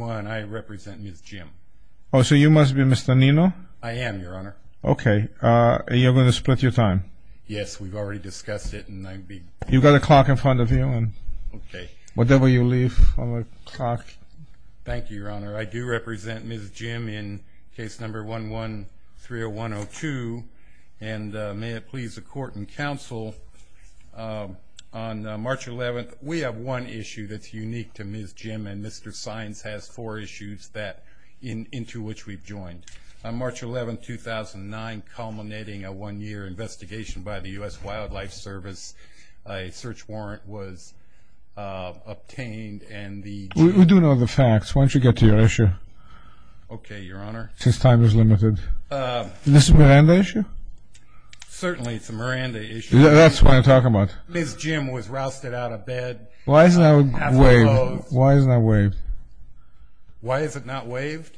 I represent Ms. Jim. Oh, so you must be Mr. Nino? I am, Your Honor. Okay, you're going to split your time. Yes, we've already discussed it. You've got a clock in front of you. Okay. Whatever you leave on the clock. Thank you, Your Honor. I do represent Ms. Jim in case number 11-30102. And may it please the Court and Counsel, on March 11th, we have one issue that's unique to Ms. Jim and Mr. Sines has to do with it. That's four issues into which we've joined. On March 11th, 2009, culminating a one-year investigation by the U.S. Wildlife Service, a search warrant was obtained and the... We do know the facts. Why don't you get to your issue? Okay, Your Honor. Since time is limited. Is this a Miranda issue? Certainly it's a Miranda issue. That's what I'm talking about. Ms. Jim was rousted out of bed. Why isn't that waived? Why is it not waived?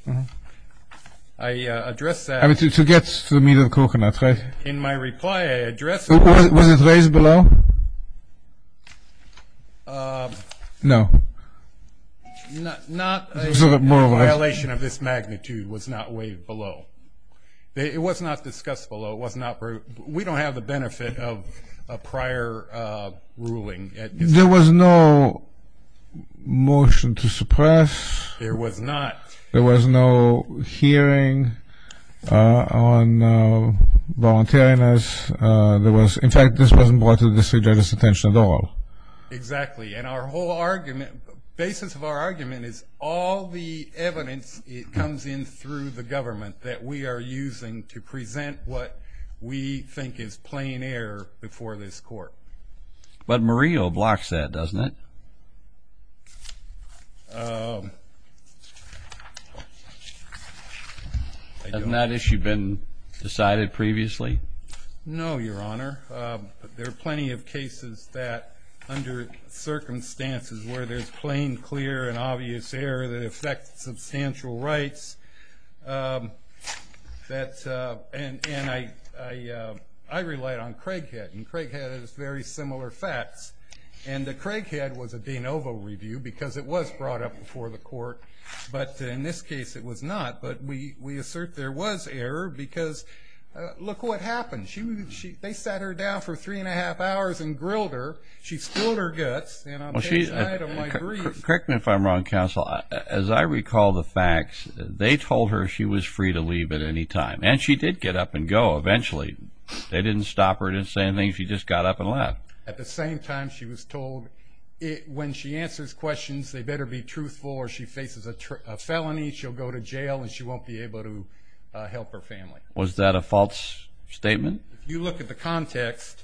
I addressed that... To get to the meat and coconuts, right? In my reply, I addressed... Was it raised below? No. Not a violation of this magnitude was not waived below. It was not discussed below. We don't have the benefit of a prior ruling. There was no motion to suppress. There was not. There was no hearing on voluntariness. In fact, this wasn't brought to the District Judge's attention at all. Exactly. And our whole argument... Basis of our argument is all the evidence comes in through the government that we are using to present what we think is plain air before this Court. But Murillo blocks that, doesn't it? Hasn't that issue been decided previously? No, Your Honor. There are plenty of cases that under circumstances where there's plain, clear, and obvious air that affects substantial rights. And I relied on Craighead, and Craighead has very similar facts. And the Craighead was a de novo review because it was brought up before the Court, but in this case it was not. But we assert there was error because look what happened. They sat her down for three and a half hours and grilled her. She spilled her guts, and on the night of my brief... They told her she was free to leave at any time, and she did get up and go eventually. They didn't stop her, didn't say anything. She just got up and left. At the same time, she was told when she answers questions, they better be truthful or she faces a felony, she'll go to jail, and she won't be able to help her family. Was that a false statement? If you look at the context,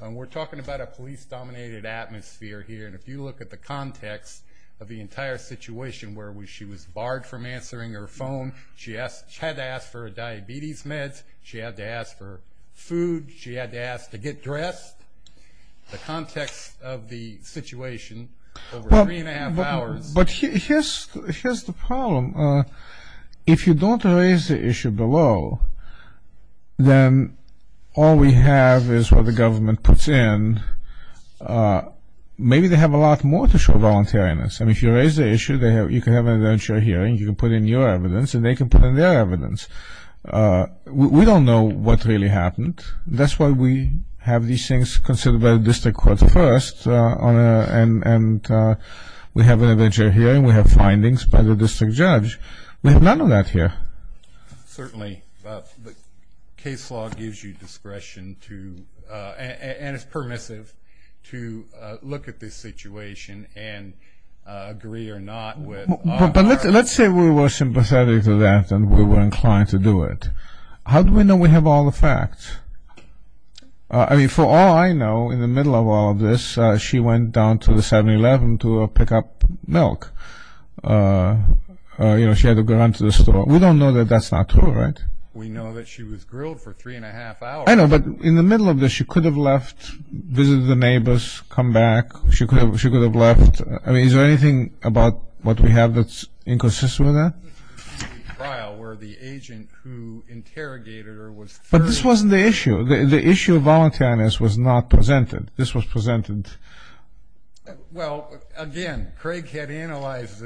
we're talking about a police-dominated atmosphere here, and if you look at the context of the entire situation where she was barred from answering her phone, she had to ask for diabetes meds, she had to ask for food, she had to ask to get dressed, the context of the situation over three and a half hours... All we have is what the government puts in. Maybe they have a lot more to show voluntariness. I mean, if you raise the issue, you can have an adventure hearing, you can put in your evidence, and they can put in their evidence. We don't know what really happened. That's why we have these things considered by the district court first, and we have an adventure hearing, we have findings by the district judge. We have none of that here. Certainly, the case law gives you discretion to, and it's permissive, to look at this situation and agree or not with our... But let's say we were sympathetic to that and we were inclined to do it. How do we know we have all the facts? I mean, for all I know, in the middle of all of this, she went down to the 7-Eleven to pick up milk. You know, she had to go down to the store. We don't know that that's not true, right? We know that she was grilled for three and a half hours. I know, but in the middle of this, she could have left, visited the neighbors, come back. She could have left. I mean, is there anything about what we have that's inconsistent with that? The trial where the agent who interrogated her was... But this wasn't the issue. The issue of voluntariness was not presented. This was presented. Well, again, Craig had analyzed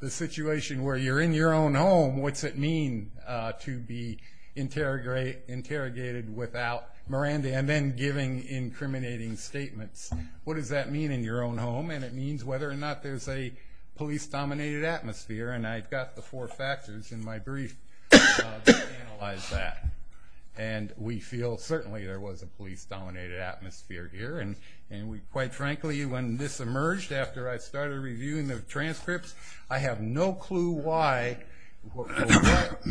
the situation where you're in your own home. What's it mean to be interrogated without Miranda and then giving incriminating statements? What does that mean in your own home? And it means whether or not there's a police-dominated atmosphere, and I've got the four factors in my brief to analyze that. And we feel certainly there was a police-dominated atmosphere here, and quite frankly when this emerged after I started reviewing the transcripts, I have no clue why or what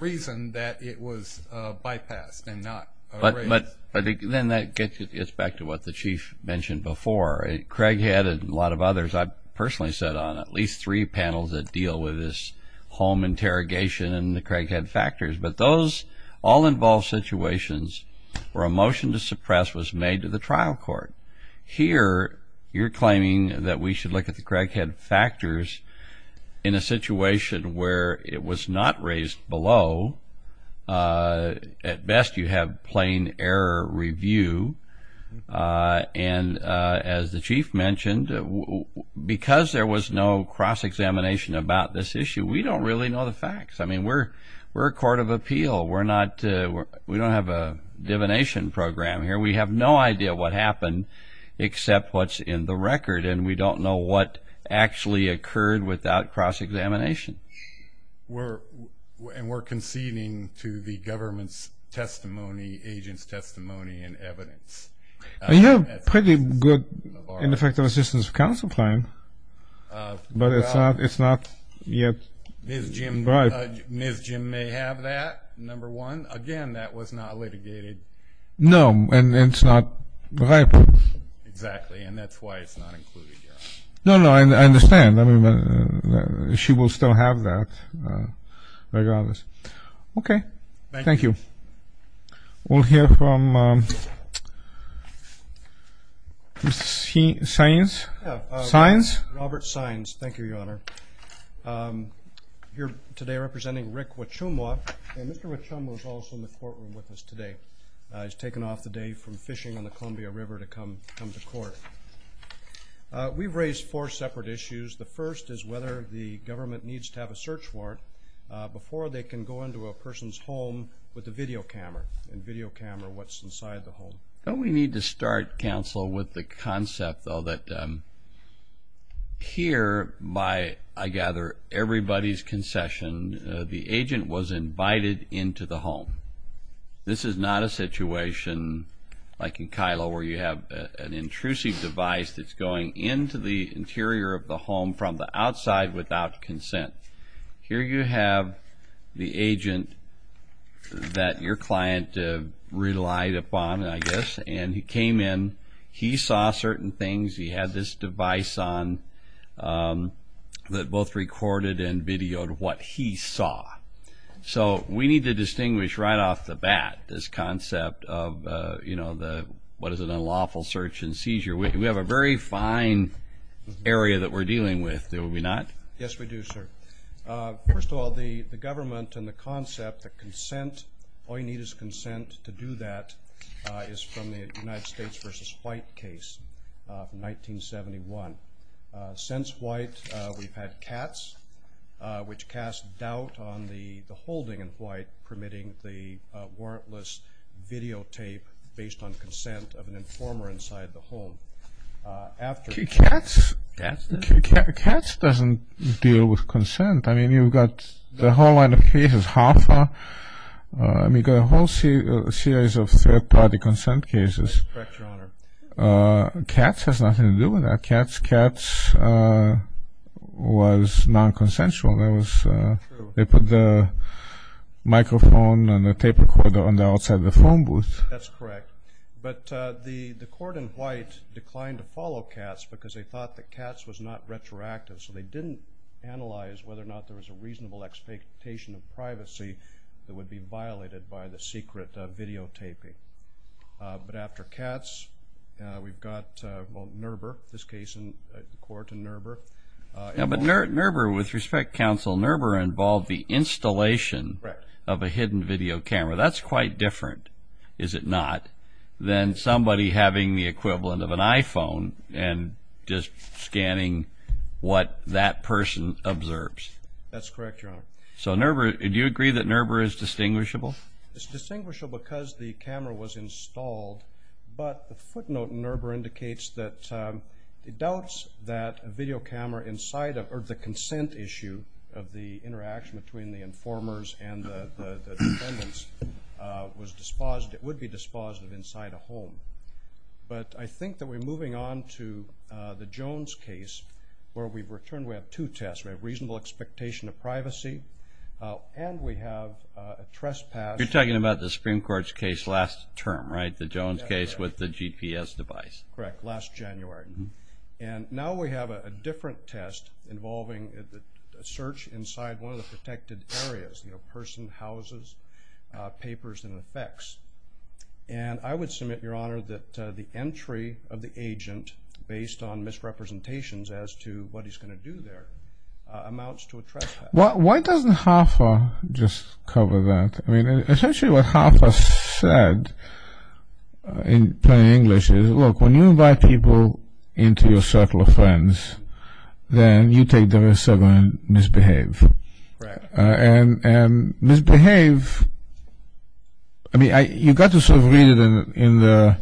reason that it was bypassed and not erased. But then that gets back to what the Chief mentioned before. Craig had, and a lot of others, I've personally sat on at least three panels that deal with this home interrogation and the Craig had factors. But those all involve situations where a motion to suppress was made to the trial court. Here you're claiming that we should look at the Craig had factors in a situation where it was not raised below. At best you have plain error review. And as the Chief mentioned, because there was no cross-examination about this issue, we don't really know the facts. I mean, we're a court of appeal. We don't have a divination program here. We have no idea what happened except what's in the record, and we don't know what actually occurred without cross-examination. And we're conceding to the government's testimony, agent's testimony and evidence. You have pretty good ineffective assistance of counsel claim, but it's not yet right. Ms. Jim may have that, number one. Again, that was not litigated. No, and it's not right. Exactly, and that's why it's not included here. No, no, I understand. I mean, she will still have that regardless. Okay. Thank you. Thank you. We'll hear from Mr. Saenz. Robert Saenz. Thank you, Your Honor. I'm here today representing Rick Wachumwa, and Mr. Wachumwa is also in the courtroom with us today. He's taken off today from fishing on the Columbia River to come to court. We've raised four separate issues. The first is whether the government needs to have a search warrant before they can go into a person's home with a video camera and video camera what's inside the home. Don't we need to start, counsel, with the concept, though, that here by, I gather, everybody's concession, the agent was invited into the home. This is not a situation like in Kylo where you have an intrusive device that's going into the interior of the home from the outside without consent. Here you have the agent that your client relied upon, I guess, and he came in. He saw certain things. He had this device on that both recorded and videoed what he saw. So we need to distinguish right off the bat this concept of, you know, what is an unlawful search and seizure. We have a very fine area that we're dealing with, do we not? Yes, we do, sir. First of all, the government and the concept, the consent, all you need is consent to do that, is from the United States v. White case from 1971. Since White, we've had Katz, which cast doubt on the holding in White permitting the warrantless videotape based on consent of an informer inside the home. Katz doesn't deal with consent. I mean, you've got the whole line of cases, HAFA. I mean, you've got a whole series of third-party consent cases. Correct, Your Honor. Katz has nothing to do with that. Katz was non-consensual. True. They put the microphone and the tape recorder on the outside of the phone booth. That's correct. But the court in White declined to follow Katz because they thought that Katz was not retroactive, so they didn't analyze whether or not there was a reasonable expectation of privacy that would be violated by the secret videotaping. But after Katz, we've got, well, NERBR, this case in court in NERBR. Yeah, but NERBR, with respect, counsel, NERBR involved the installation of a hidden video camera. That's quite different, is it not, than somebody having the equivalent of an iPhone and just scanning what that person observes. That's correct, Your Honor. So NERBR, do you agree that NERBR is distinguishable? It's distinguishable because the camera was installed, but the footnote in NERBR indicates that it doubts that a video camera inside of or the consent issue of the interaction between the informers and the defendants would be dispositive inside a home. But I think that we're moving on to the Jones case where we've returned. We have two tests. We have reasonable expectation of privacy, and we have a trespass. You're talking about the Supreme Court's case last term, right, the Jones case with the GPS device. Correct, last January. And now we have a different test involving a search inside one of the protected areas, you know, person, houses, papers, and effects. And I would submit, Your Honor, that the entry of the agent based on misrepresentations as to what he's going to do there amounts to a trespass. Why doesn't HAFA just cover that? I mean, essentially what HAFA said in plain English is, look, when you invite people into your circle of friends, then you take the risk of misbehaving. And misbehave, I mean, you've got to sort of read it in the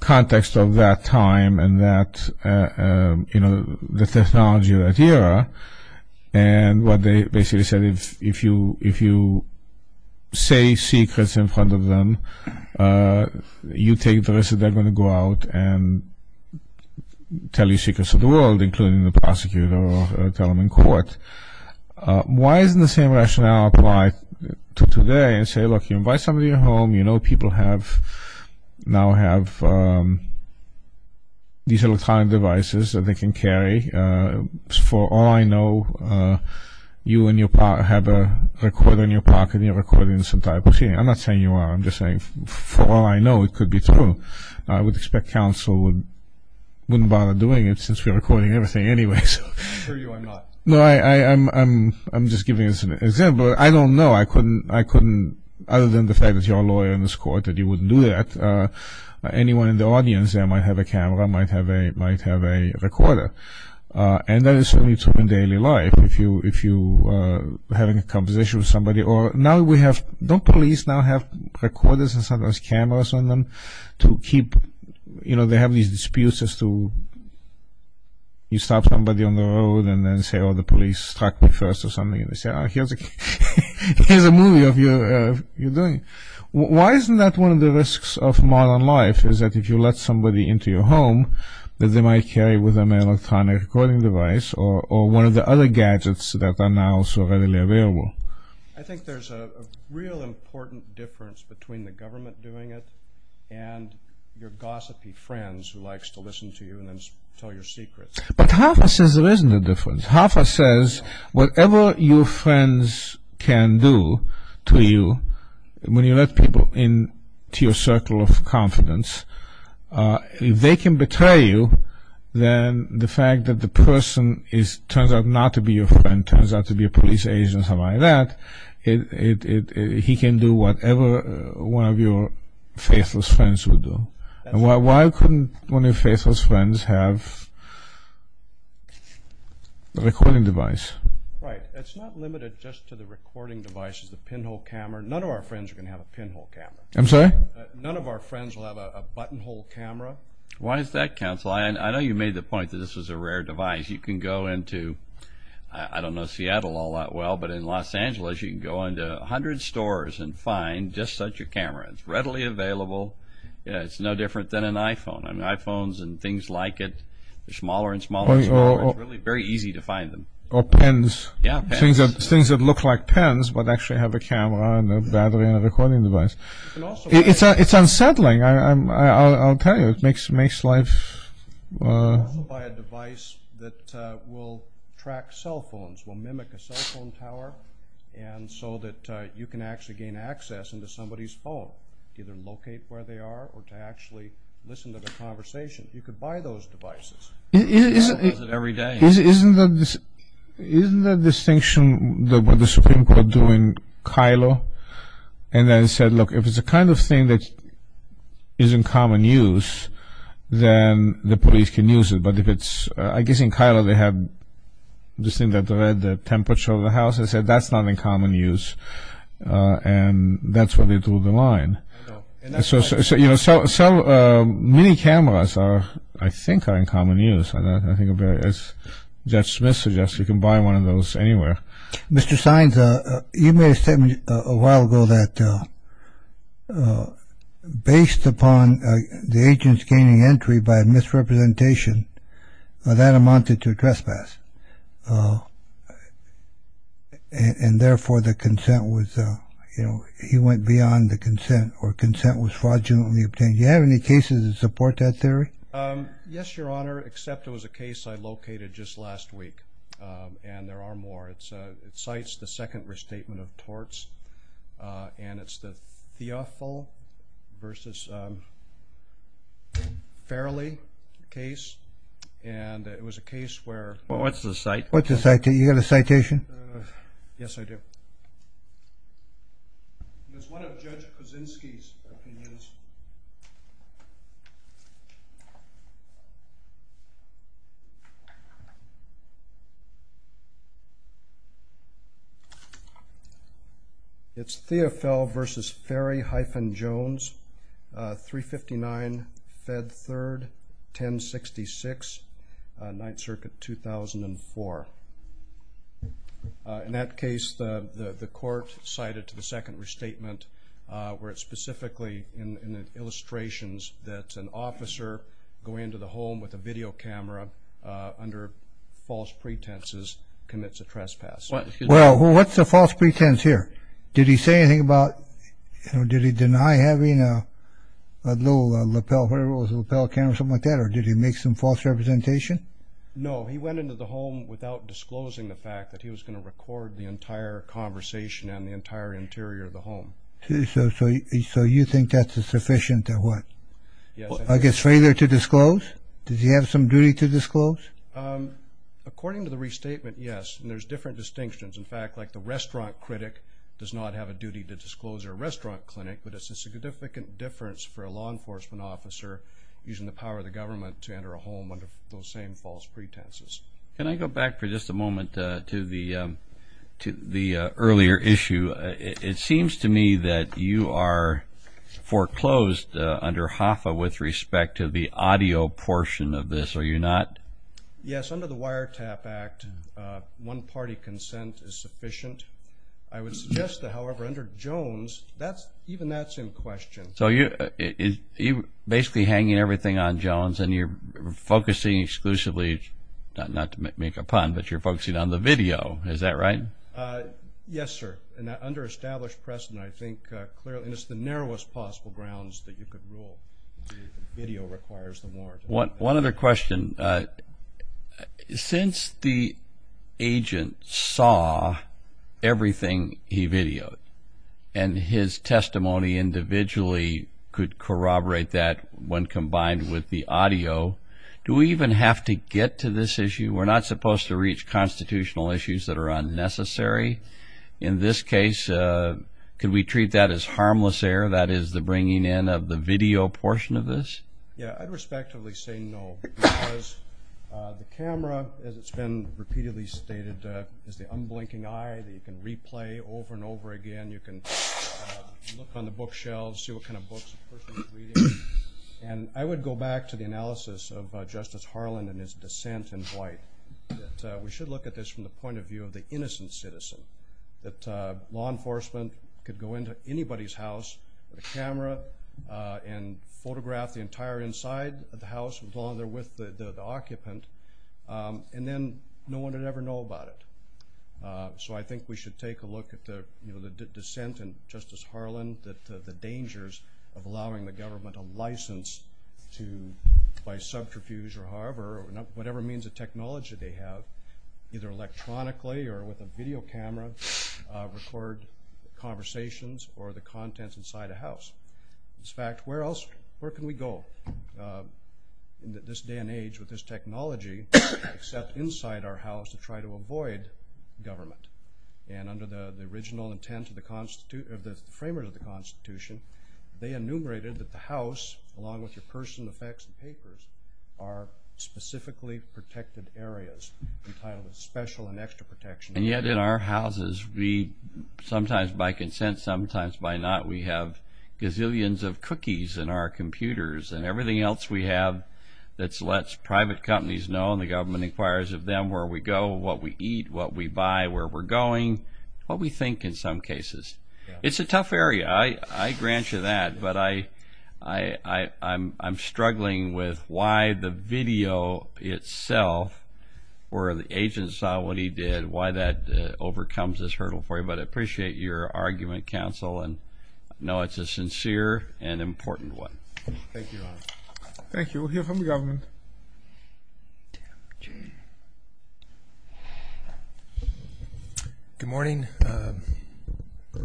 context of that time and that, you know, the technology of that era, and what they basically said is if you say secrets in front of them, you take the risk that they're going to go out and tell you secrets of the world, including the prosecutor or tell them in court. Why doesn't the same rationale apply to today and say, look, you invite somebody into your home, you know people now have these electronic devices that they can carry for all I know you have a recorder in your pocket and you're recording this entire proceeding. I'm not saying you are. I'm just saying for all I know it could be true. I would expect counsel wouldn't bother doing it since we're recording everything anyway. I'm sure you are not. No, I'm just giving an example. I don't know. I couldn't, other than the fact that you're a lawyer in this court, that you wouldn't do that. Anyone in the audience there might have a camera, might have a recorder, and that is certainly true in daily life. If you're having a conversation with somebody or now we have, don't police now have recorders and sometimes cameras on them to keep, you know, they have these disputes as to, you stop somebody on the road and then say, oh, the police struck me first or something and they say, oh, here's a movie of you doing it. Why isn't that one of the risks of modern life is that if you let somebody into your home that they might carry with them an electronic recording device or one of the other gadgets that are now so readily available? I think there's a real important difference between the government doing it and your gossipy friends who likes to listen to you and then tell your secrets. But Hafez says there isn't a difference. Hafez says whatever your friends can do to you when you let people into your circle of confidence, if they can betray you, then the fact that the person turns out not to be your friend, turns out to be a police agent or something like that, he can do whatever one of your faithless friends would do. Why couldn't one of your faithless friends have a recording device? Right. It's not limited just to the recording devices, the pinhole camera. None of our friends are going to have a pinhole camera. I'm sorry? None of our friends will have a buttonhole camera. Why is that, counsel? I know you made the point that this was a rare device. You can go into, I don't know, Seattle all that well, but it's readily available. It's no different than an iPhone. iPhones and things like it, they're smaller and smaller and smaller. It's really very easy to find them. Or pens. Yeah, pens. Things that look like pens but actually have a camera and a battery and a recording device. It's unsettling, I'll tell you. It makes life... You can also buy a device that will track cell phones, will mimic a cell phone tower, and so that you can actually gain access into somebody's phone, either locate where they are or to actually listen to the conversation. You could buy those devices. I use it every day. Isn't the distinction with the Supreme Court doing Kylo, and then said, look, if it's the kind of thing that is in common use, then the police can use it. I guess in Kylo they had this thing that read the temperature of the house. They said that's not in common use, and that's where they drew the line. So many cameras, I think, are in common use. As Judge Smith suggests, you can buy one of those anywhere. Mr. Sines, you made a statement a while ago that based upon the agent's gaining entry by misrepresentation, that amounted to a trespass, and therefore the consent was, you know, he went beyond the consent, or consent was fraudulently obtained. Do you have any cases that support that theory? Yes, Your Honor, except there was a case I located just last week, and there are more. It cites the second restatement of torts, and it's the Theofil versus Farrelly case, and it was a case where- What's the citation? You got a citation? Yes, I do. It's one of Judge Kuczynski's opinions. It's Theofil versus Farrelly-Jones, 359 Fed 3rd, 1066, 9th Circuit, 2004. In that case, the court cited to the second restatement where it's specifically in the illustrations that an officer going into the home with a video camera under false pretenses commits a trespass. Well, what's the false pretense here? Did he say anything about- Did he deny having a little lapel camera or something like that, or did he make some false representation? No. He went into the home without disclosing the fact that he was going to record the entire conversation and the entire interior of the home. So you think that's sufficient to what? Yes. I guess, failure to disclose? Does he have some duty to disclose? According to the restatement, yes, and there's different distinctions. In fact, like the restaurant critic does not have a duty to disclose their restaurant clinic, but it's a significant difference for a law enforcement officer using the power of the government to enter a home under those same false pretenses. Can I go back for just a moment to the earlier issue? It seems to me that you are foreclosed under HOFA with respect to the audio portion of this, are you not? Yes, under the Wiretap Act, one-party consent is sufficient. I would suggest, however, under Jones, even that's in question. So you're basically hanging everything on Jones and you're focusing exclusively, not to make a pun, but you're focusing on the video, is that right? Yes, sir. In that under-established precedent, I think clearly, and it's the narrowest possible grounds that you could rule that the video requires the warrant. One other question. Since the agent saw everything he videoed and his testimony individually could corroborate that when combined with the audio, do we even have to get to this issue? We're not supposed to reach constitutional issues that are unnecessary. In this case, can we treat that as harmless error, that is the bringing in of the video portion of this? Yes, I'd respectively say no because the camera, as it's been repeatedly stated, is the unblinking eye that you can replay over and over again. You can look on the bookshelves, see what kind of books a person is reading. And I would go back to the analysis of Justice Harland and his dissent in Dwight. We should look at this from the point of view of the innocent citizen, that law enforcement could go into anybody's house with a camera and photograph the entire inside of the house, along there with the occupant, and then no one would ever know about it. So I think we should take a look at the dissent in Justice Harland, the dangers of allowing the government a license to, by subterfuge or however, whatever means of technology they have, either electronically or with a video camera, record conversations or the contents inside a house. In fact, where else can we go in this day and age with this technology except inside our house to try to avoid government? And under the original intent of the framers of the Constitution, they enumerated that the house, along with your purse and the fax and papers, are specifically protected areas, entitled Special and Extra Protection. And yet in our houses, sometimes by consent, sometimes by not, we have gazillions of cookies in our computers, and everything else we have that lets private companies know, and the government inquires of them where we go, what we eat, what we buy, where we're going, what we think in some cases. It's a tough area. I grant you that, but I'm struggling with why the video itself, where the agent saw what he did, why that overcomes this hurdle for you. But I appreciate your argument, counsel, and know it's a sincere and important one. Thank you, Your Honor. Thank you. We'll hear from the government. Good morning.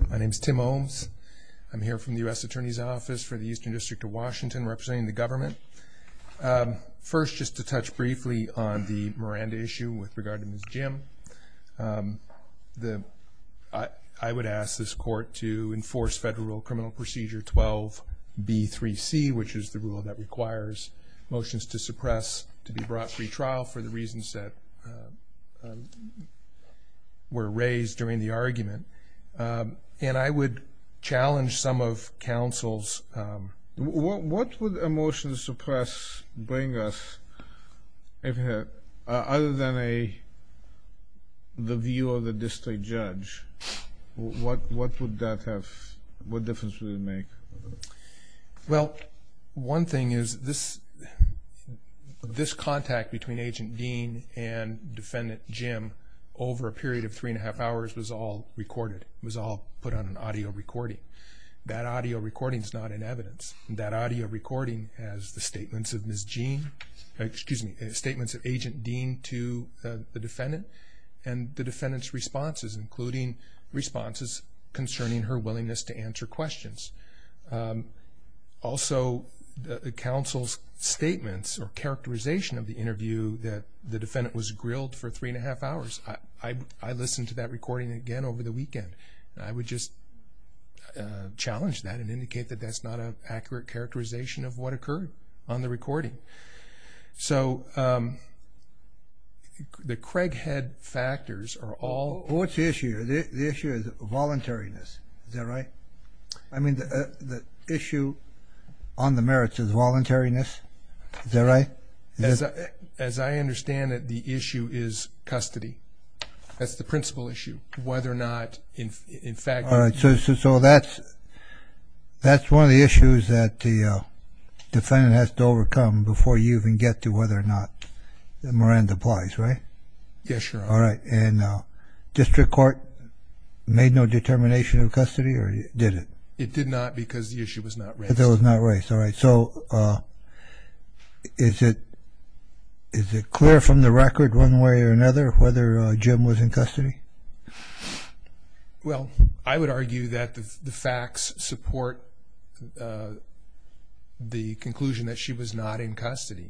My name is Tim Holmes. I'm here from the U.S. Attorney's Office for the Eastern District of Washington representing the government. First, just to touch briefly on the Miranda issue with regard to Ms. Jim, I would ask this court to enforce Federal Criminal Procedure 12B3C, which is the rule that requires motions to suppress to be brought free trial for the reasons that were raised during the argument. And I would challenge some of counsel's. What would a motion to suppress bring us other than the view of the district judge? What difference would it make? Well, one thing is this contact between Agent Dean and Defendant Jim over a period of three and a half hours was all recorded, was all put on an audio recording. That audio recording is not in evidence. That audio recording has the statements of Agent Dean to the defendant and the defendant's responses, including responses concerning her willingness to answer questions. Also, the counsel's statements or characterization of the interview that the defendant was grilled for three and a half hours, I listened to that recording again over the weekend. I would just challenge that and indicate that that's not an accurate characterization of what occurred on the recording. So the Craighead factors are all... What's the issue? The issue is voluntariness. Is that right? I mean, the issue on the merits is voluntariness. Is that right? As I understand it, the issue is custody. That's the principal issue, whether or not, in fact... All right. So that's one of the issues that the defendant has to overcome before you even get to whether or not Miranda applies, right? Yes, Your Honor. All right. And district court made no determination of custody or did it? It did not because the issue was not raised. Because it was not raised. All right. Is it clear from the record one way or another whether Jim was in custody? Well, I would argue that the facts support the conclusion that she was not in custody.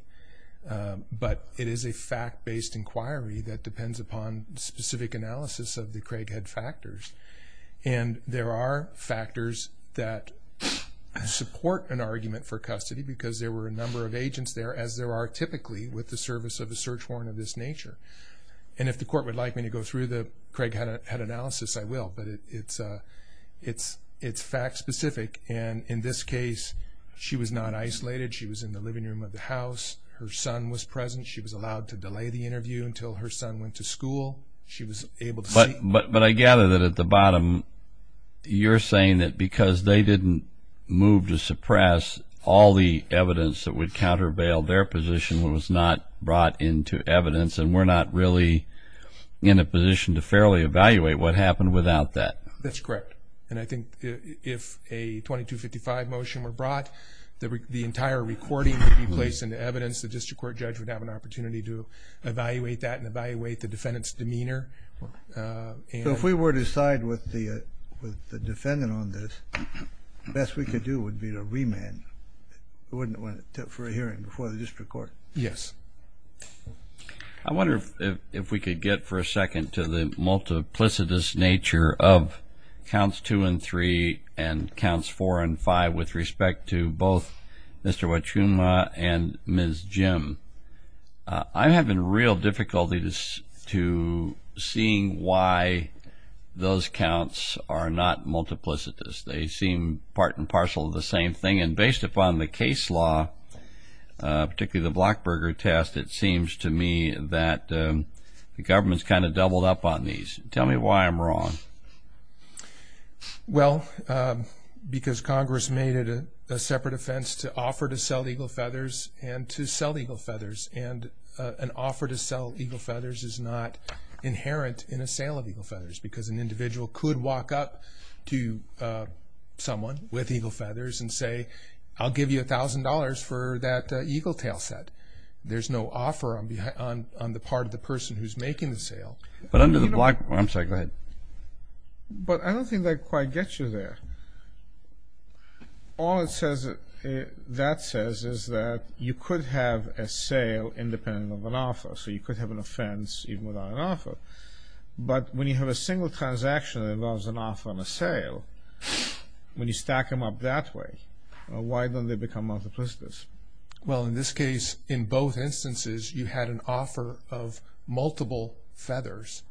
But it is a fact-based inquiry that depends upon specific analysis of the Craighead factors. And there are factors that support an argument for custody because there were a number of agents there, as there are typically, with the service of a search warrant of this nature. And if the court would like me to go through the Craighead analysis, I will. But it's fact-specific. And in this case, she was not isolated. She was in the living room of the house. Her son was present. She was allowed to delay the interview until her son went to school. She was able to see... But I gather that at the bottom you're saying that because they didn't move to suppress all the evidence that would counter bail, their position was not brought into evidence and we're not really in a position to fairly evaluate what happened without that. That's correct. And I think if a 2255 motion were brought, the entire recording would be placed into evidence. The district court judge would have an opportunity to evaluate that and evaluate the defendant's demeanor. So if we were to side with the defendant on this, the best we could do would be to remand for a hearing before the district court. Yes. I wonder if we could get for a second to the multiplicitous nature of counts 2 and 3 and counts 4 and 5 with respect to both Mr. Wachuma and Ms. Jim. I'm having real difficulty to seeing why those counts are not multiplicitous. They seem part and parcel of the same thing, and based upon the case law, particularly the Blockberger test, it seems to me that the government's kind of doubled up on these. Tell me why I'm wrong. Well, because Congress made it a separate offense to offer to sell eagle feathers and to sell eagle feathers, and an offer to sell eagle feathers is not inherent in a sale of eagle feathers because an individual could walk up to someone with eagle feathers and say, I'll give you $1,000 for that eagle tail set. There's no offer on the part of the person who's making the sale. But under the Blockberger, I'm sorry, go ahead. But I don't think that quite gets you there. All that says is that you could have a sale independent of an offer, so you could have an offense even without an offer. But when you have a single transaction that involves an offer and a sale, when you stack them up that way, why don't they become multiplicitous? Well, in this case, in both instances, you had an offer of multiple feathers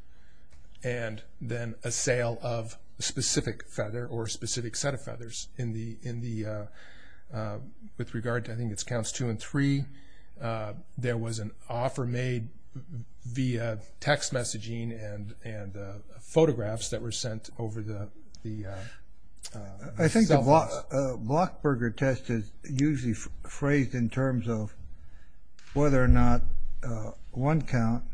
and then a sale of a specific feather or a specific set of feathers. With regard to, I think it's counts two and three, there was an offer made via text messaging and photographs that were sent over the cell phones. I think the Blockberger test is usually phrased in terms of whether or not one count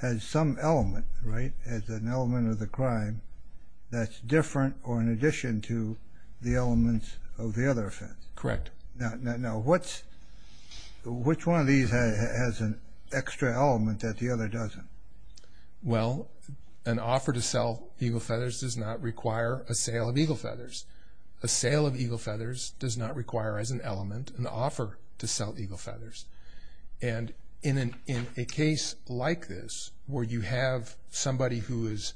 has some element, right, has an element of the crime that's different or in addition to the elements of the other offense. Correct. Now, which one of these has an extra element that the other doesn't? Well, an offer to sell eagle feathers does not require a sale of eagle feathers. A sale of eagle feathers does not require as an element an offer to sell eagle feathers. And in a case like this where you have somebody who is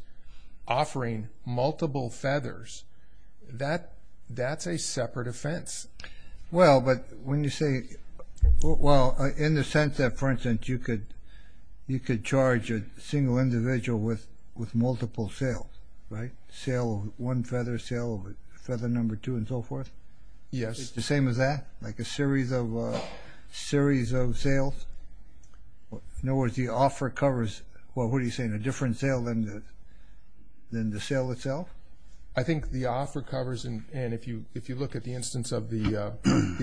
offering multiple feathers, that's a separate offense. Well, but when you say, well, in the sense that, for instance, you could charge a single individual with multiple sales, right, sale of one feather, sale of feather number two and so forth? Yes. It's the same as that, like a series of sales? In other words, the offer covers, well, what are you saying, a different sale than the sale itself? I think the offer covers, and if you look at the instance of the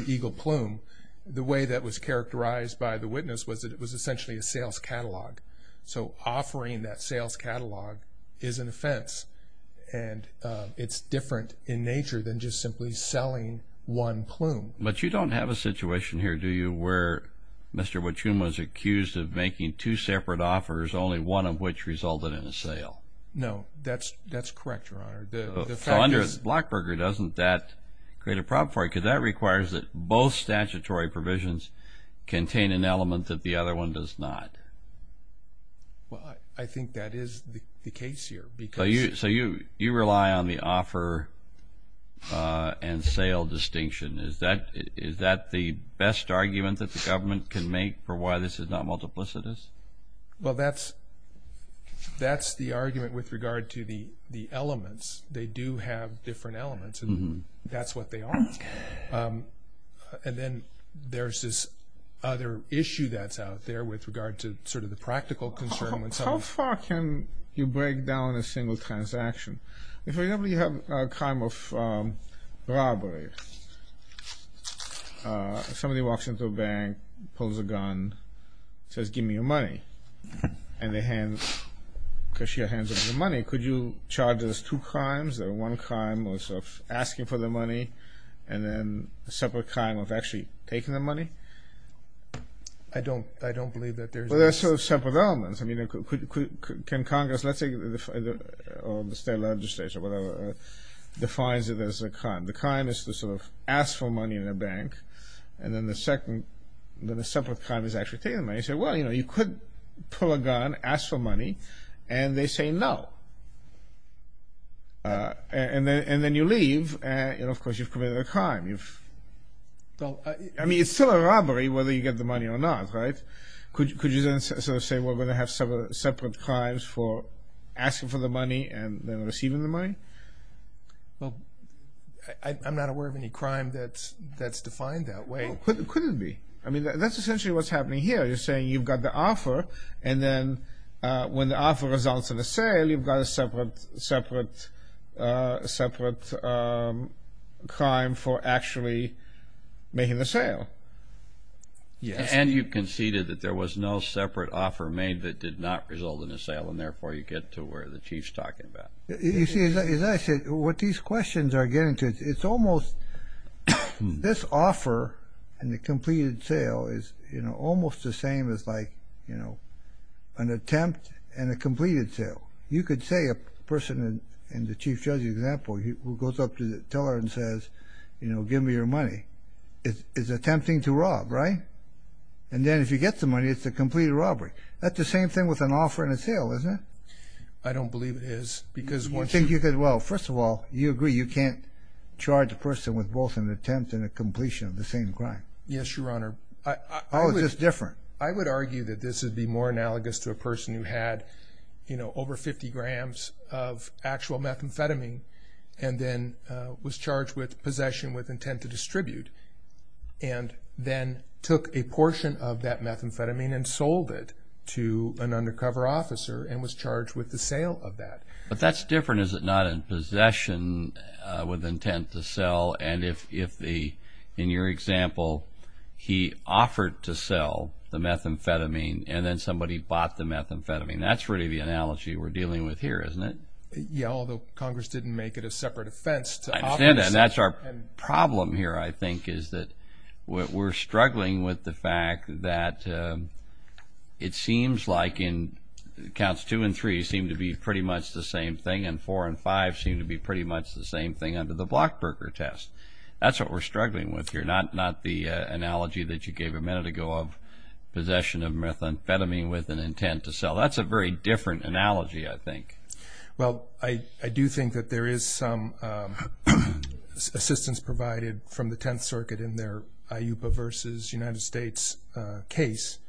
eagle plume, the way that was characterized by the witness was that it was essentially a sales catalog. So offering that sales catalog is an offense, and it's different in nature than just simply selling one plume. But you don't have a situation here, do you, where Mr. Wachum was accused of making two separate offers, only one of which resulted in a sale? No. That's correct, Your Honor. So under Blockberger, doesn't that create a problem for you? Because that requires that both statutory provisions contain an element that the other one does not. Well, I think that is the case here. So you rely on the offer and sale distinction. Is that the best argument that the government can make for why this is not multiplicitous? Well, that's the argument with regard to the elements. They do have different elements, and that's what they are. And then there's this other issue that's out there with regard to sort of the practical concern. How far can you break down a single transaction? Somebody walks into a bank, pulls a gun, says, give me your money. And they hand, because she hands over the money, could you charge those two crimes or one crime of sort of asking for the money and then a separate crime of actually taking the money? I don't believe that there's this. Well, there's sort of separate elements. I mean, can Congress, let's say, or the state legislature, whatever, defines it as a crime. The crime is to sort of ask for money in a bank, and then a separate crime is actually taking the money. So, well, you know, you could pull a gun, ask for money, and they say no. And then you leave, and, of course, you've committed a crime. I mean, it's still a robbery whether you get the money or not, right? Could you then sort of say, well, we're going to have separate crimes for asking for the money and then receiving the money? Well, I'm not aware of any crime that's defined that way. Well, couldn't it be? I mean, that's essentially what's happening here. You're saying you've got the offer, and then when the offer results in a sale, you've got a separate crime for actually making the sale. Yes. And you conceded that there was no separate offer made that did not result in a sale, and therefore you get to where the Chief's talking about. You see, as I said, what these questions are getting to, it's almost this offer and the completed sale is, you know, almost the same as, like, you know, an attempt and a completed sale. You could say a person in the Chief Judge's example who goes up to the teller and says, you know, give me your money is attempting to rob, right? And then if you get the money, it's a completed robbery. That's the same thing with an offer and a sale, isn't it? I don't believe it is. You think you could? Well, first of all, you agree you can't charge a person with both an attempt and a completion of the same crime. Yes, Your Honor. Oh, it's just different. I would argue that this would be more analogous to a person who had, you know, over 50 grams of actual methamphetamine and then was charged with possession with intent to distribute and then took a portion of that methamphetamine and sold it to an undercover officer and was charged with the sale of that. But that's different. Is it not in possession with intent to sell? And if, in your example, he offered to sell the methamphetamine and then somebody bought the methamphetamine, that's really the analogy we're dealing with here, isn't it? Yes, although Congress didn't make it a separate offense. I understand that. And that's our problem here, I think, is that we're struggling with the fact that it seems like counts two and three seem to be pretty much the same thing and four and five seem to be pretty much the same thing under the Blockberger test. That's what we're struggling with here, not the analogy that you gave a minute ago of possession of methamphetamine with an intent to sell. That's a very different analogy, I think. Well, I do think that there is some assistance provided from the Tenth Circuit in their IUPA versus United States case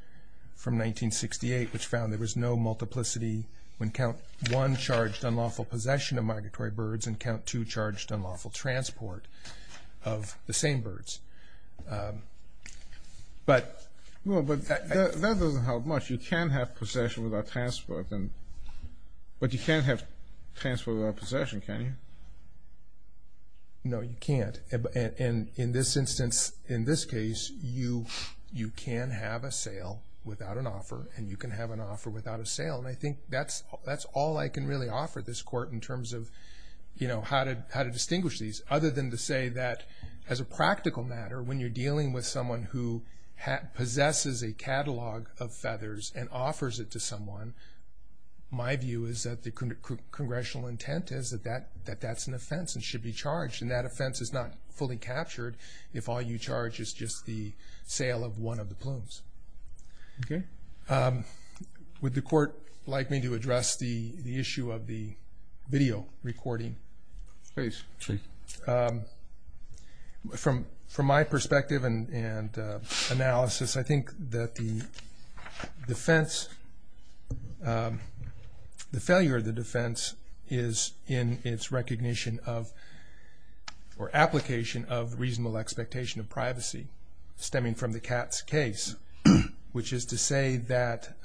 from 1968, which found there was no multiplicity when count one charged unlawful possession of migratory birds and count two charged unlawful transport of the same birds. But that doesn't help much. You can have possession without transport, but you can't have transport without possession, can you? No, you can't. In this instance, in this case, you can have a sale without an offer and you can have an offer without a sale. And I think that's all I can really offer this Court in terms of how to distinguish these, other than to say that as a practical matter, when you're dealing with someone who possesses a catalog of feathers and offers it to someone, my view is that the congressional intent is that that's an offense and should be charged, and that offense is not fully captured if all you charge is just the sale of one of the plumes. Okay. Would the Court like me to address the issue of the video recording? Please. Sure. From my perspective and analysis, I think that the defense, the failure of the defense is in its recognition of or application of reasonable expectation of privacy, stemming from the Katz case, which is to say that,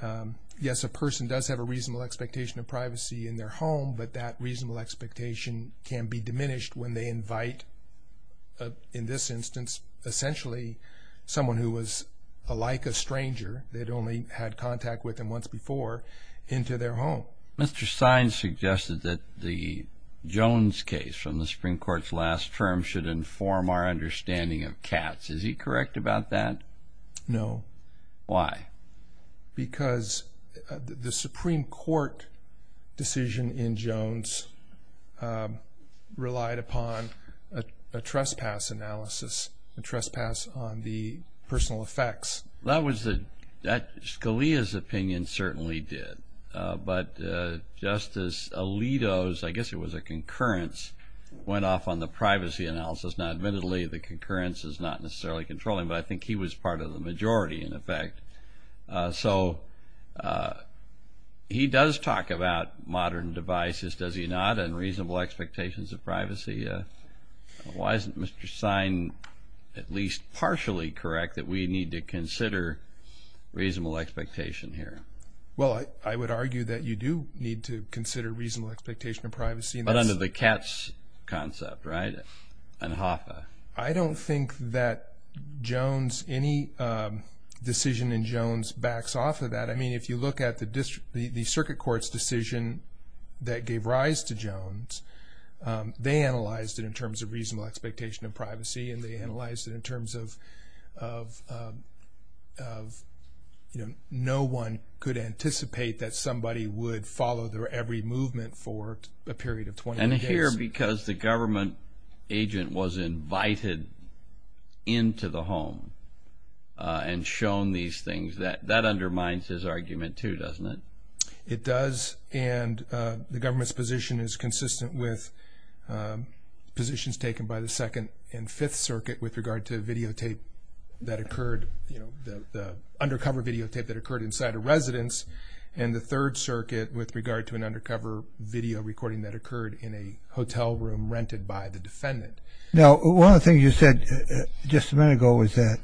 yes, a person does have a reasonable expectation of privacy in their home, but that reasonable expectation can be diminished when they invite, in this instance, essentially someone who was alike a stranger, they'd only had contact with them once before, into their home. Mr. Sines suggested that the Jones case from the Supreme Court's last term should inform our understanding of Katz. Is he correct about that? No. Why? Because the Supreme Court decision in Jones relied upon a trespass analysis, a trespass on the personal effects. Scalia's opinion certainly did. But Justice Alito's, I guess it was a concurrence, went off on the privacy analysis. Now, admittedly, the concurrence is not necessarily controlling, but I think he was part of the majority, in effect. So he does talk about modern devices, does he not, and reasonable expectations of privacy. Why isn't Mr. Sine at least partially correct that we need to consider reasonable expectation here? Well, I would argue that you do need to consider reasonable expectation of privacy. But under the Katz concept, right, and Hoffa? I don't think that Jones, any decision in Jones backs off of that. I mean, if you look at the circuit court's decision that gave rise to Jones, they analyzed it in terms of reasonable expectation of privacy, and they analyzed it in terms of no one could anticipate that somebody would follow every movement for a period of 20 days. And here, because the government agent was invited into the home and shown these things, that undermines his argument, too, doesn't it? It does. And the government's position is consistent with positions taken by the Second and Fifth Circuit with regard to videotape that occurred, the undercover videotape that occurred inside a residence, and the Third Circuit with regard to an undercover video recording that occurred in a hotel room rented by the defendant. Now, one of the things you said just a minute ago was that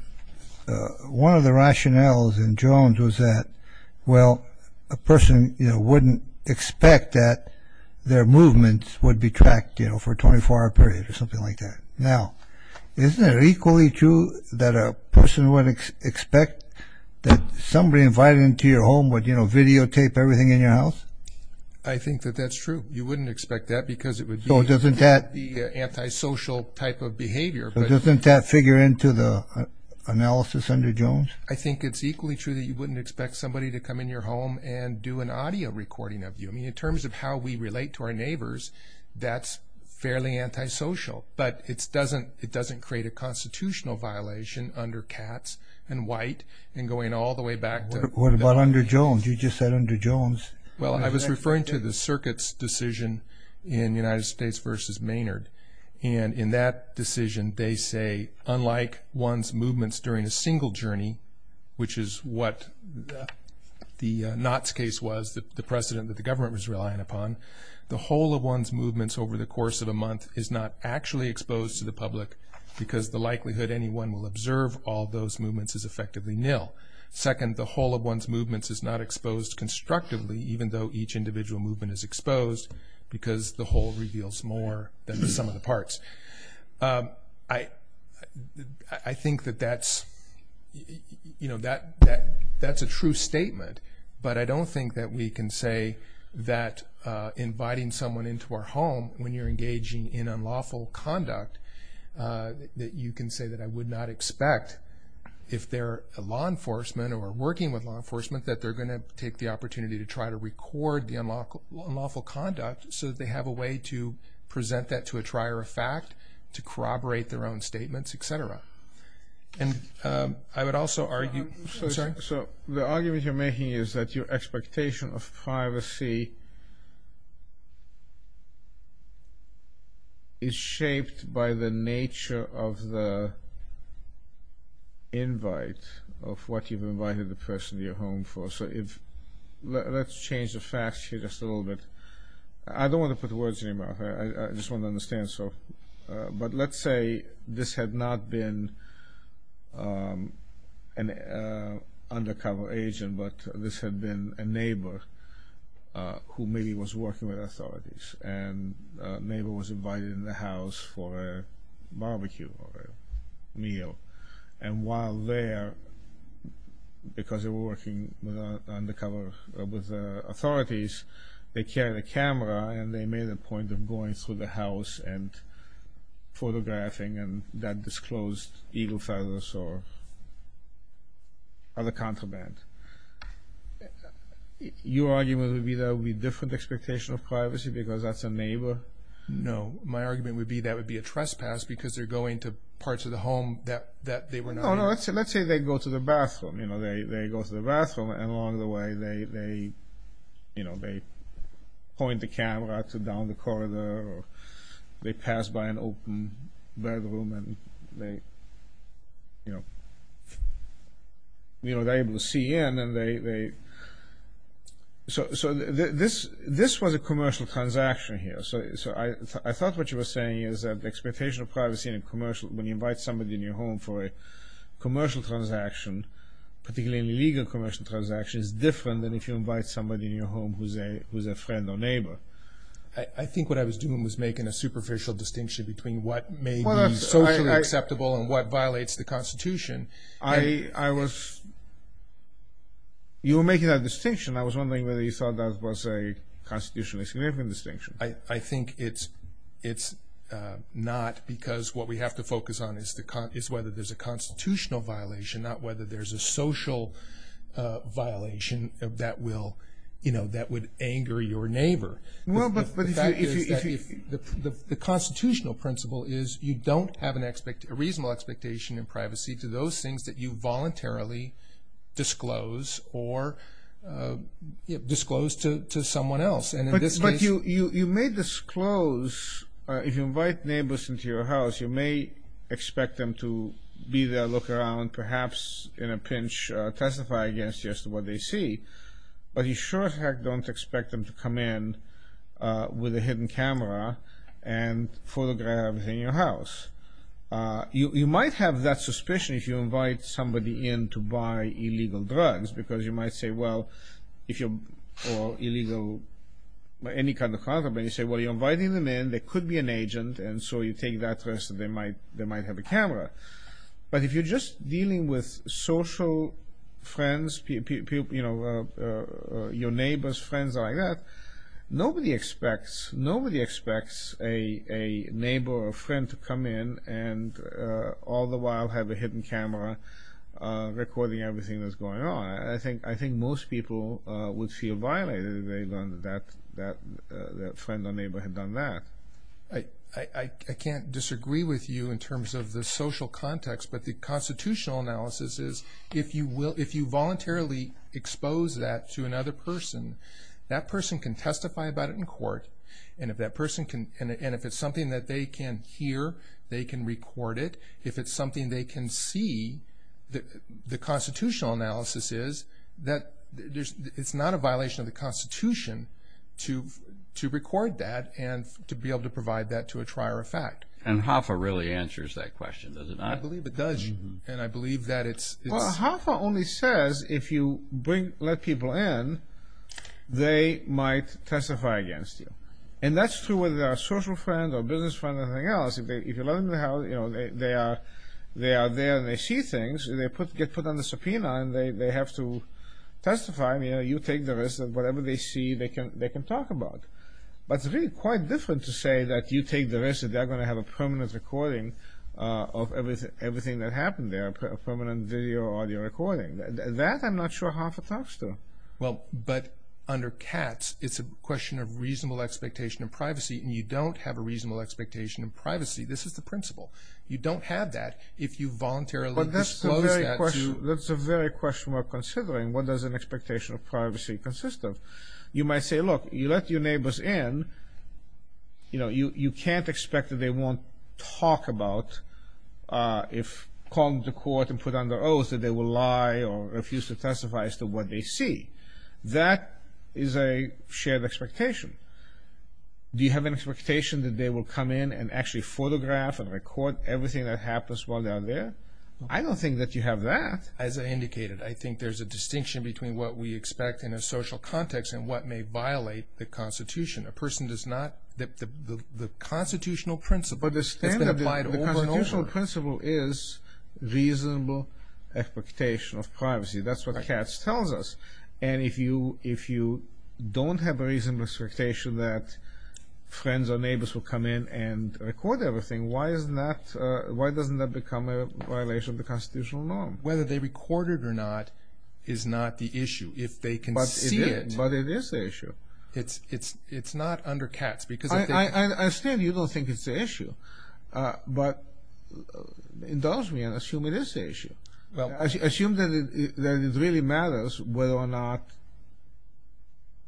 one of the rationales in Jones was that, well, a person, you know, wouldn't expect that their movements would be tracked, you know, for a 24-hour period or something like that. Now, isn't it equally true that a person would expect that somebody invited into your home would, you know, videotape everything in your house? I think that that's true. You wouldn't expect that because it would be an antisocial type of behavior. So doesn't that figure into the analysis under Jones? I think it's equally true that you wouldn't expect somebody to come in your home and do an audio recording of you. I mean, in terms of how we relate to our neighbors, that's fairly antisocial. But it doesn't create a constitutional violation under Katz and White, and going all the way back to Bellamy. What about under Jones? You just said under Jones. Well, I was referring to the circuit's decision in United States v. Maynard, and in that decision they say, unlike one's movements during a single journey, which is what the Knott's case was, the precedent that the government was relying upon, the whole of one's movements over the course of a month is not actually exposed to the public because the likelihood anyone will observe all those movements is effectively nil. Second, the whole of one's movements is not exposed constructively, even though each individual movement is exposed, because the whole reveals more than the sum of the parts. I think that that's a true statement, but I don't think that we can say that inviting someone into our home when you're engaging in unlawful conduct, that you can say that I would not expect, if they're law enforcement or working with law enforcement, that they're going to take the opportunity to try to record the unlawful conduct so that they have a way to present that to a trier of fact, to corroborate their own statements, et cetera. And I would also argue, I'm sorry? So the argument you're making is that your expectation of privacy is shaped by the nature of the invite of what you've invited the person to your home for. So let's change the facts here just a little bit. I don't want to put words in your mouth. I just want to understand. But let's say this had not been an undercover agent, but this had been a neighbor who maybe was working with authorities, and a neighbor was invited into the house for a barbecue or a meal. And while there, because they were working undercover with authorities, they carried a camera and they made a point of going through the house and photographing that disclosed eagle feathers or other contraband. Your argument would be that would be a different expectation of privacy because that's a neighbor? No. My argument would be that would be a trespass because they're going to parts of the home that they were not in. Let's say they go to the bathroom. They go to the bathroom and along the way they point the camera to down the corridor or they pass by an open bedroom and they're able to see in. So this was a commercial transaction here. So I thought what you were saying is that the expectation of privacy in a commercial, when you invite somebody in your home for a commercial transaction, particularly a legal commercial transaction, is different than if you invite somebody in your home who's a friend or neighbor. I think what I was doing was making a superficial distinction between what may be socially acceptable and what violates the Constitution. I was, you were making that distinction. I was wondering whether you thought that was a constitutionally significant distinction. I think it's not because what we have to focus on is whether there's a constitutional violation, not whether there's a social violation that would anger your neighbor. The fact is that the constitutional principle is you don't have a reasonable expectation of privacy to those things that you voluntarily disclose or disclose to someone else. But you may disclose, if you invite neighbors into your house, you may expect them to be there, look around, perhaps in a pinch, testify against just what they see, but you sure as heck don't expect them to come in with a hidden camera and photograph everything in your house. You might have that suspicion if you invite somebody in to buy illegal drugs because you might say, well, if you're, or illegal, any kind of contraband, you say, well, you're inviting them in, they could be an agent, and so you take that risk that they might have a camera. But if you're just dealing with social friends, you know, your neighbor's friends like that, nobody expects, nobody expects a neighbor or a friend to come in and all the while have a hidden camera recording everything that's going on. I think most people would feel violated if they learned that that friend or neighbor had done that. I can't disagree with you in terms of the social context, but the constitutional analysis is if you voluntarily expose that to another person, that person can testify about it in court, and if that person can, and if it's something that they can hear, they can record it. If it's something they can see, the constitutional analysis is that it's not a violation of the Constitution to record that and to be able to provide that to a trier of fact. And HAFA really answers that question, does it not? I believe it does, and I believe that it's... because if you let people in, they might testify against you. And that's true whether they're a social friend or a business friend or anything else. If you let them know how, you know, they are there and they see things, they get put on the subpoena and they have to testify, you know, you take the risk that whatever they see, they can talk about. But it's really quite different to say that you take the risk that they're going to have a permanent recording of everything that happened there, a permanent video or audio recording. That I'm not sure HAFA talks to. Well, but under CATS, it's a question of reasonable expectation of privacy, and you don't have a reasonable expectation of privacy. This is the principle. You don't have that if you voluntarily disclose that to... But that's the very question we're considering. What does an expectation of privacy consist of? You might say, look, you let your neighbors in, you know, you can't expect that they won't talk about if called to court and put under oath that they will lie or refuse to testify as to what they see. That is a shared expectation. Do you have an expectation that they will come in and actually photograph and record everything that happens while they are there? I don't think that you have that. As I indicated, I think there's a distinction between what we expect in a social context and what may violate the Constitution. A person does not... The Constitutional principle has been applied over and over. But the Constitutional principle is reasonable expectation of privacy. That's what CATS tells us. And if you don't have a reasonable expectation that friends or neighbors will come in and record everything, why doesn't that become a violation of the Constitutional norm? Whether they record it or not is not the issue. If they can see it... But it is the issue. It's not under CATS because... I understand you don't think it's the issue, but indulge me and assume it is the issue. Assume that it really matters whether or not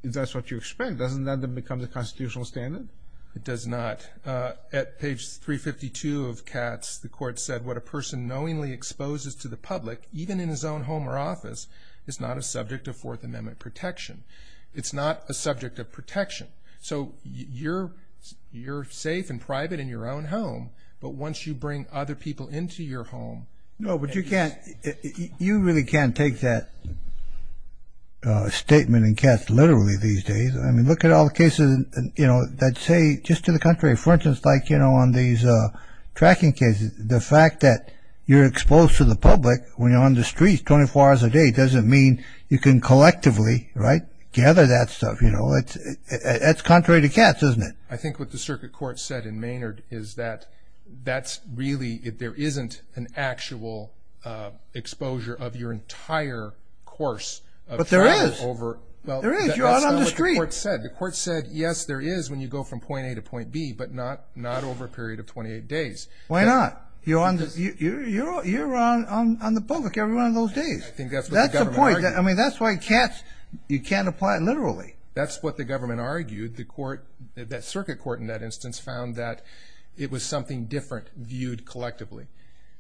that's what you expect. Doesn't that become the Constitutional standard? It does not. At page 352 of CATS, the Court said, what a person knowingly exposes to the public, even in his own home or office, is not a subject of Fourth Amendment protection. It's not a subject of protection. So you're safe and private in your own home, but once you bring other people into your home... No, but you can't... You really can't take that statement in CATS literally these days. I mean, look at all the cases, you know, that say just to the contrary. For instance, like, you know, on these tracking cases, the fact that you're exposed to the public when you're on the streets 24 hours a day doesn't mean you can collectively, right, gather that stuff, you know. That's contrary to CATS, isn't it? I think what the Circuit Court said in Maynard is that that's really... There isn't an actual exposure of your entire course of travel over... But there is. There is. You're out on the street. Well, that's not what the Court said. The Court said, yes, there is when you go from point A to point B, but not over a period of 28 days. Why not? You're on the public every one of those days. I think that's what the government argued. That's the point. I mean, that's why you can't apply it literally. That's what the government argued. The Court, the Circuit Court in that instance, found that it was something different viewed collectively.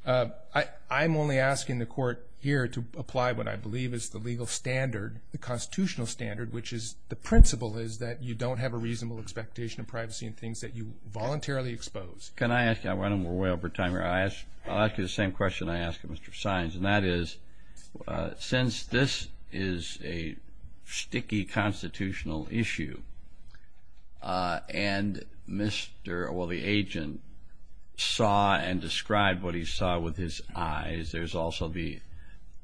I'm only asking the Court here to apply what I believe is the legal standard, the constitutional standard, which is the principle is that you don't have a reasonable expectation of privacy and things that you voluntarily expose. Can I ask you? I'm running way over time here. I'll ask you the same question I asked Mr. Saenz, and that is since this is a sticky constitutional issue and Mr. or the agent saw and described what he saw with his eyes, there's also the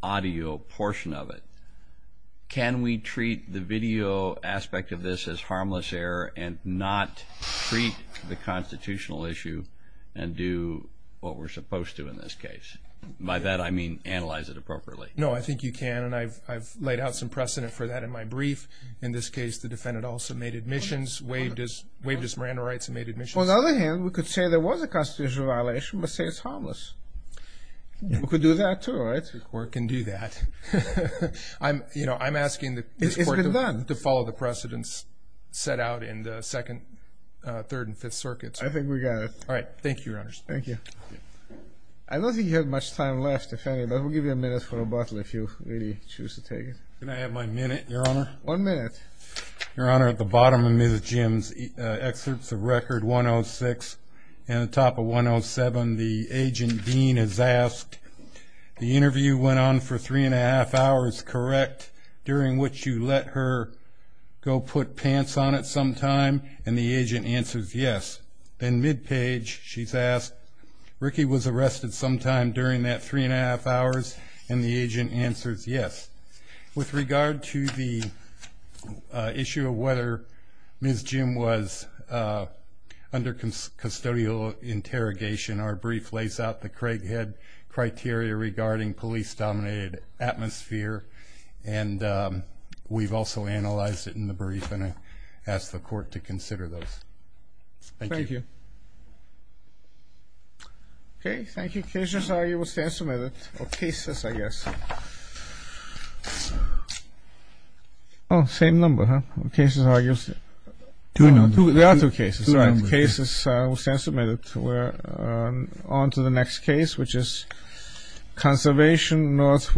audio portion of it. Can we treat the video aspect of this as harmless error and not treat the constitutional issue and do what we're supposed to in this case? By that I mean analyze it appropriately. No, I think you can, and I've laid out some precedent for that in my brief. In this case, the defendant also made admissions, waived his Miranda rights and made admissions. On the other hand, we could say there was a constitutional violation, but say it's harmless. We could do that too, right? The Court can do that. I'm asking this Court to follow the precedents set out in the Second, Third, and Fifth Circuits. I think we got it. All right. Thank you, Your Honor. Thank you. I don't think you have much time left, defendant, but we'll give you a minute for a bottle if you really choose to take it. Can I have my minute, Your Honor? One minute. Your Honor, at the bottom of Ms. Jim's excerpts of Record 106 and the top of 107, the agent, Dean, is asked, the interview went on for three and a half hours, correct, during which you let her go put pants on at some time? And the agent answers, yes. Then mid-page, she's asked, Ricky was arrested sometime during that three and a half hours, and the agent answers, yes. With regard to the issue of whether Ms. Jim was under custodial interrogation, our brief lays out the Craighead criteria regarding police-dominated atmosphere, and we've also analyzed it in the brief, and I ask the Court to consider those. Thank you. Thank you. Okay, thank you. Cases are, you will stand submitted, or cases, I guess. Oh, same number, huh? Cases are, you'll stand. Two numbers. There are two cases, right? Two numbers. Cases will stand submitted. We're on to the next case, which is conservation, Northwood, Northwood, Northwood.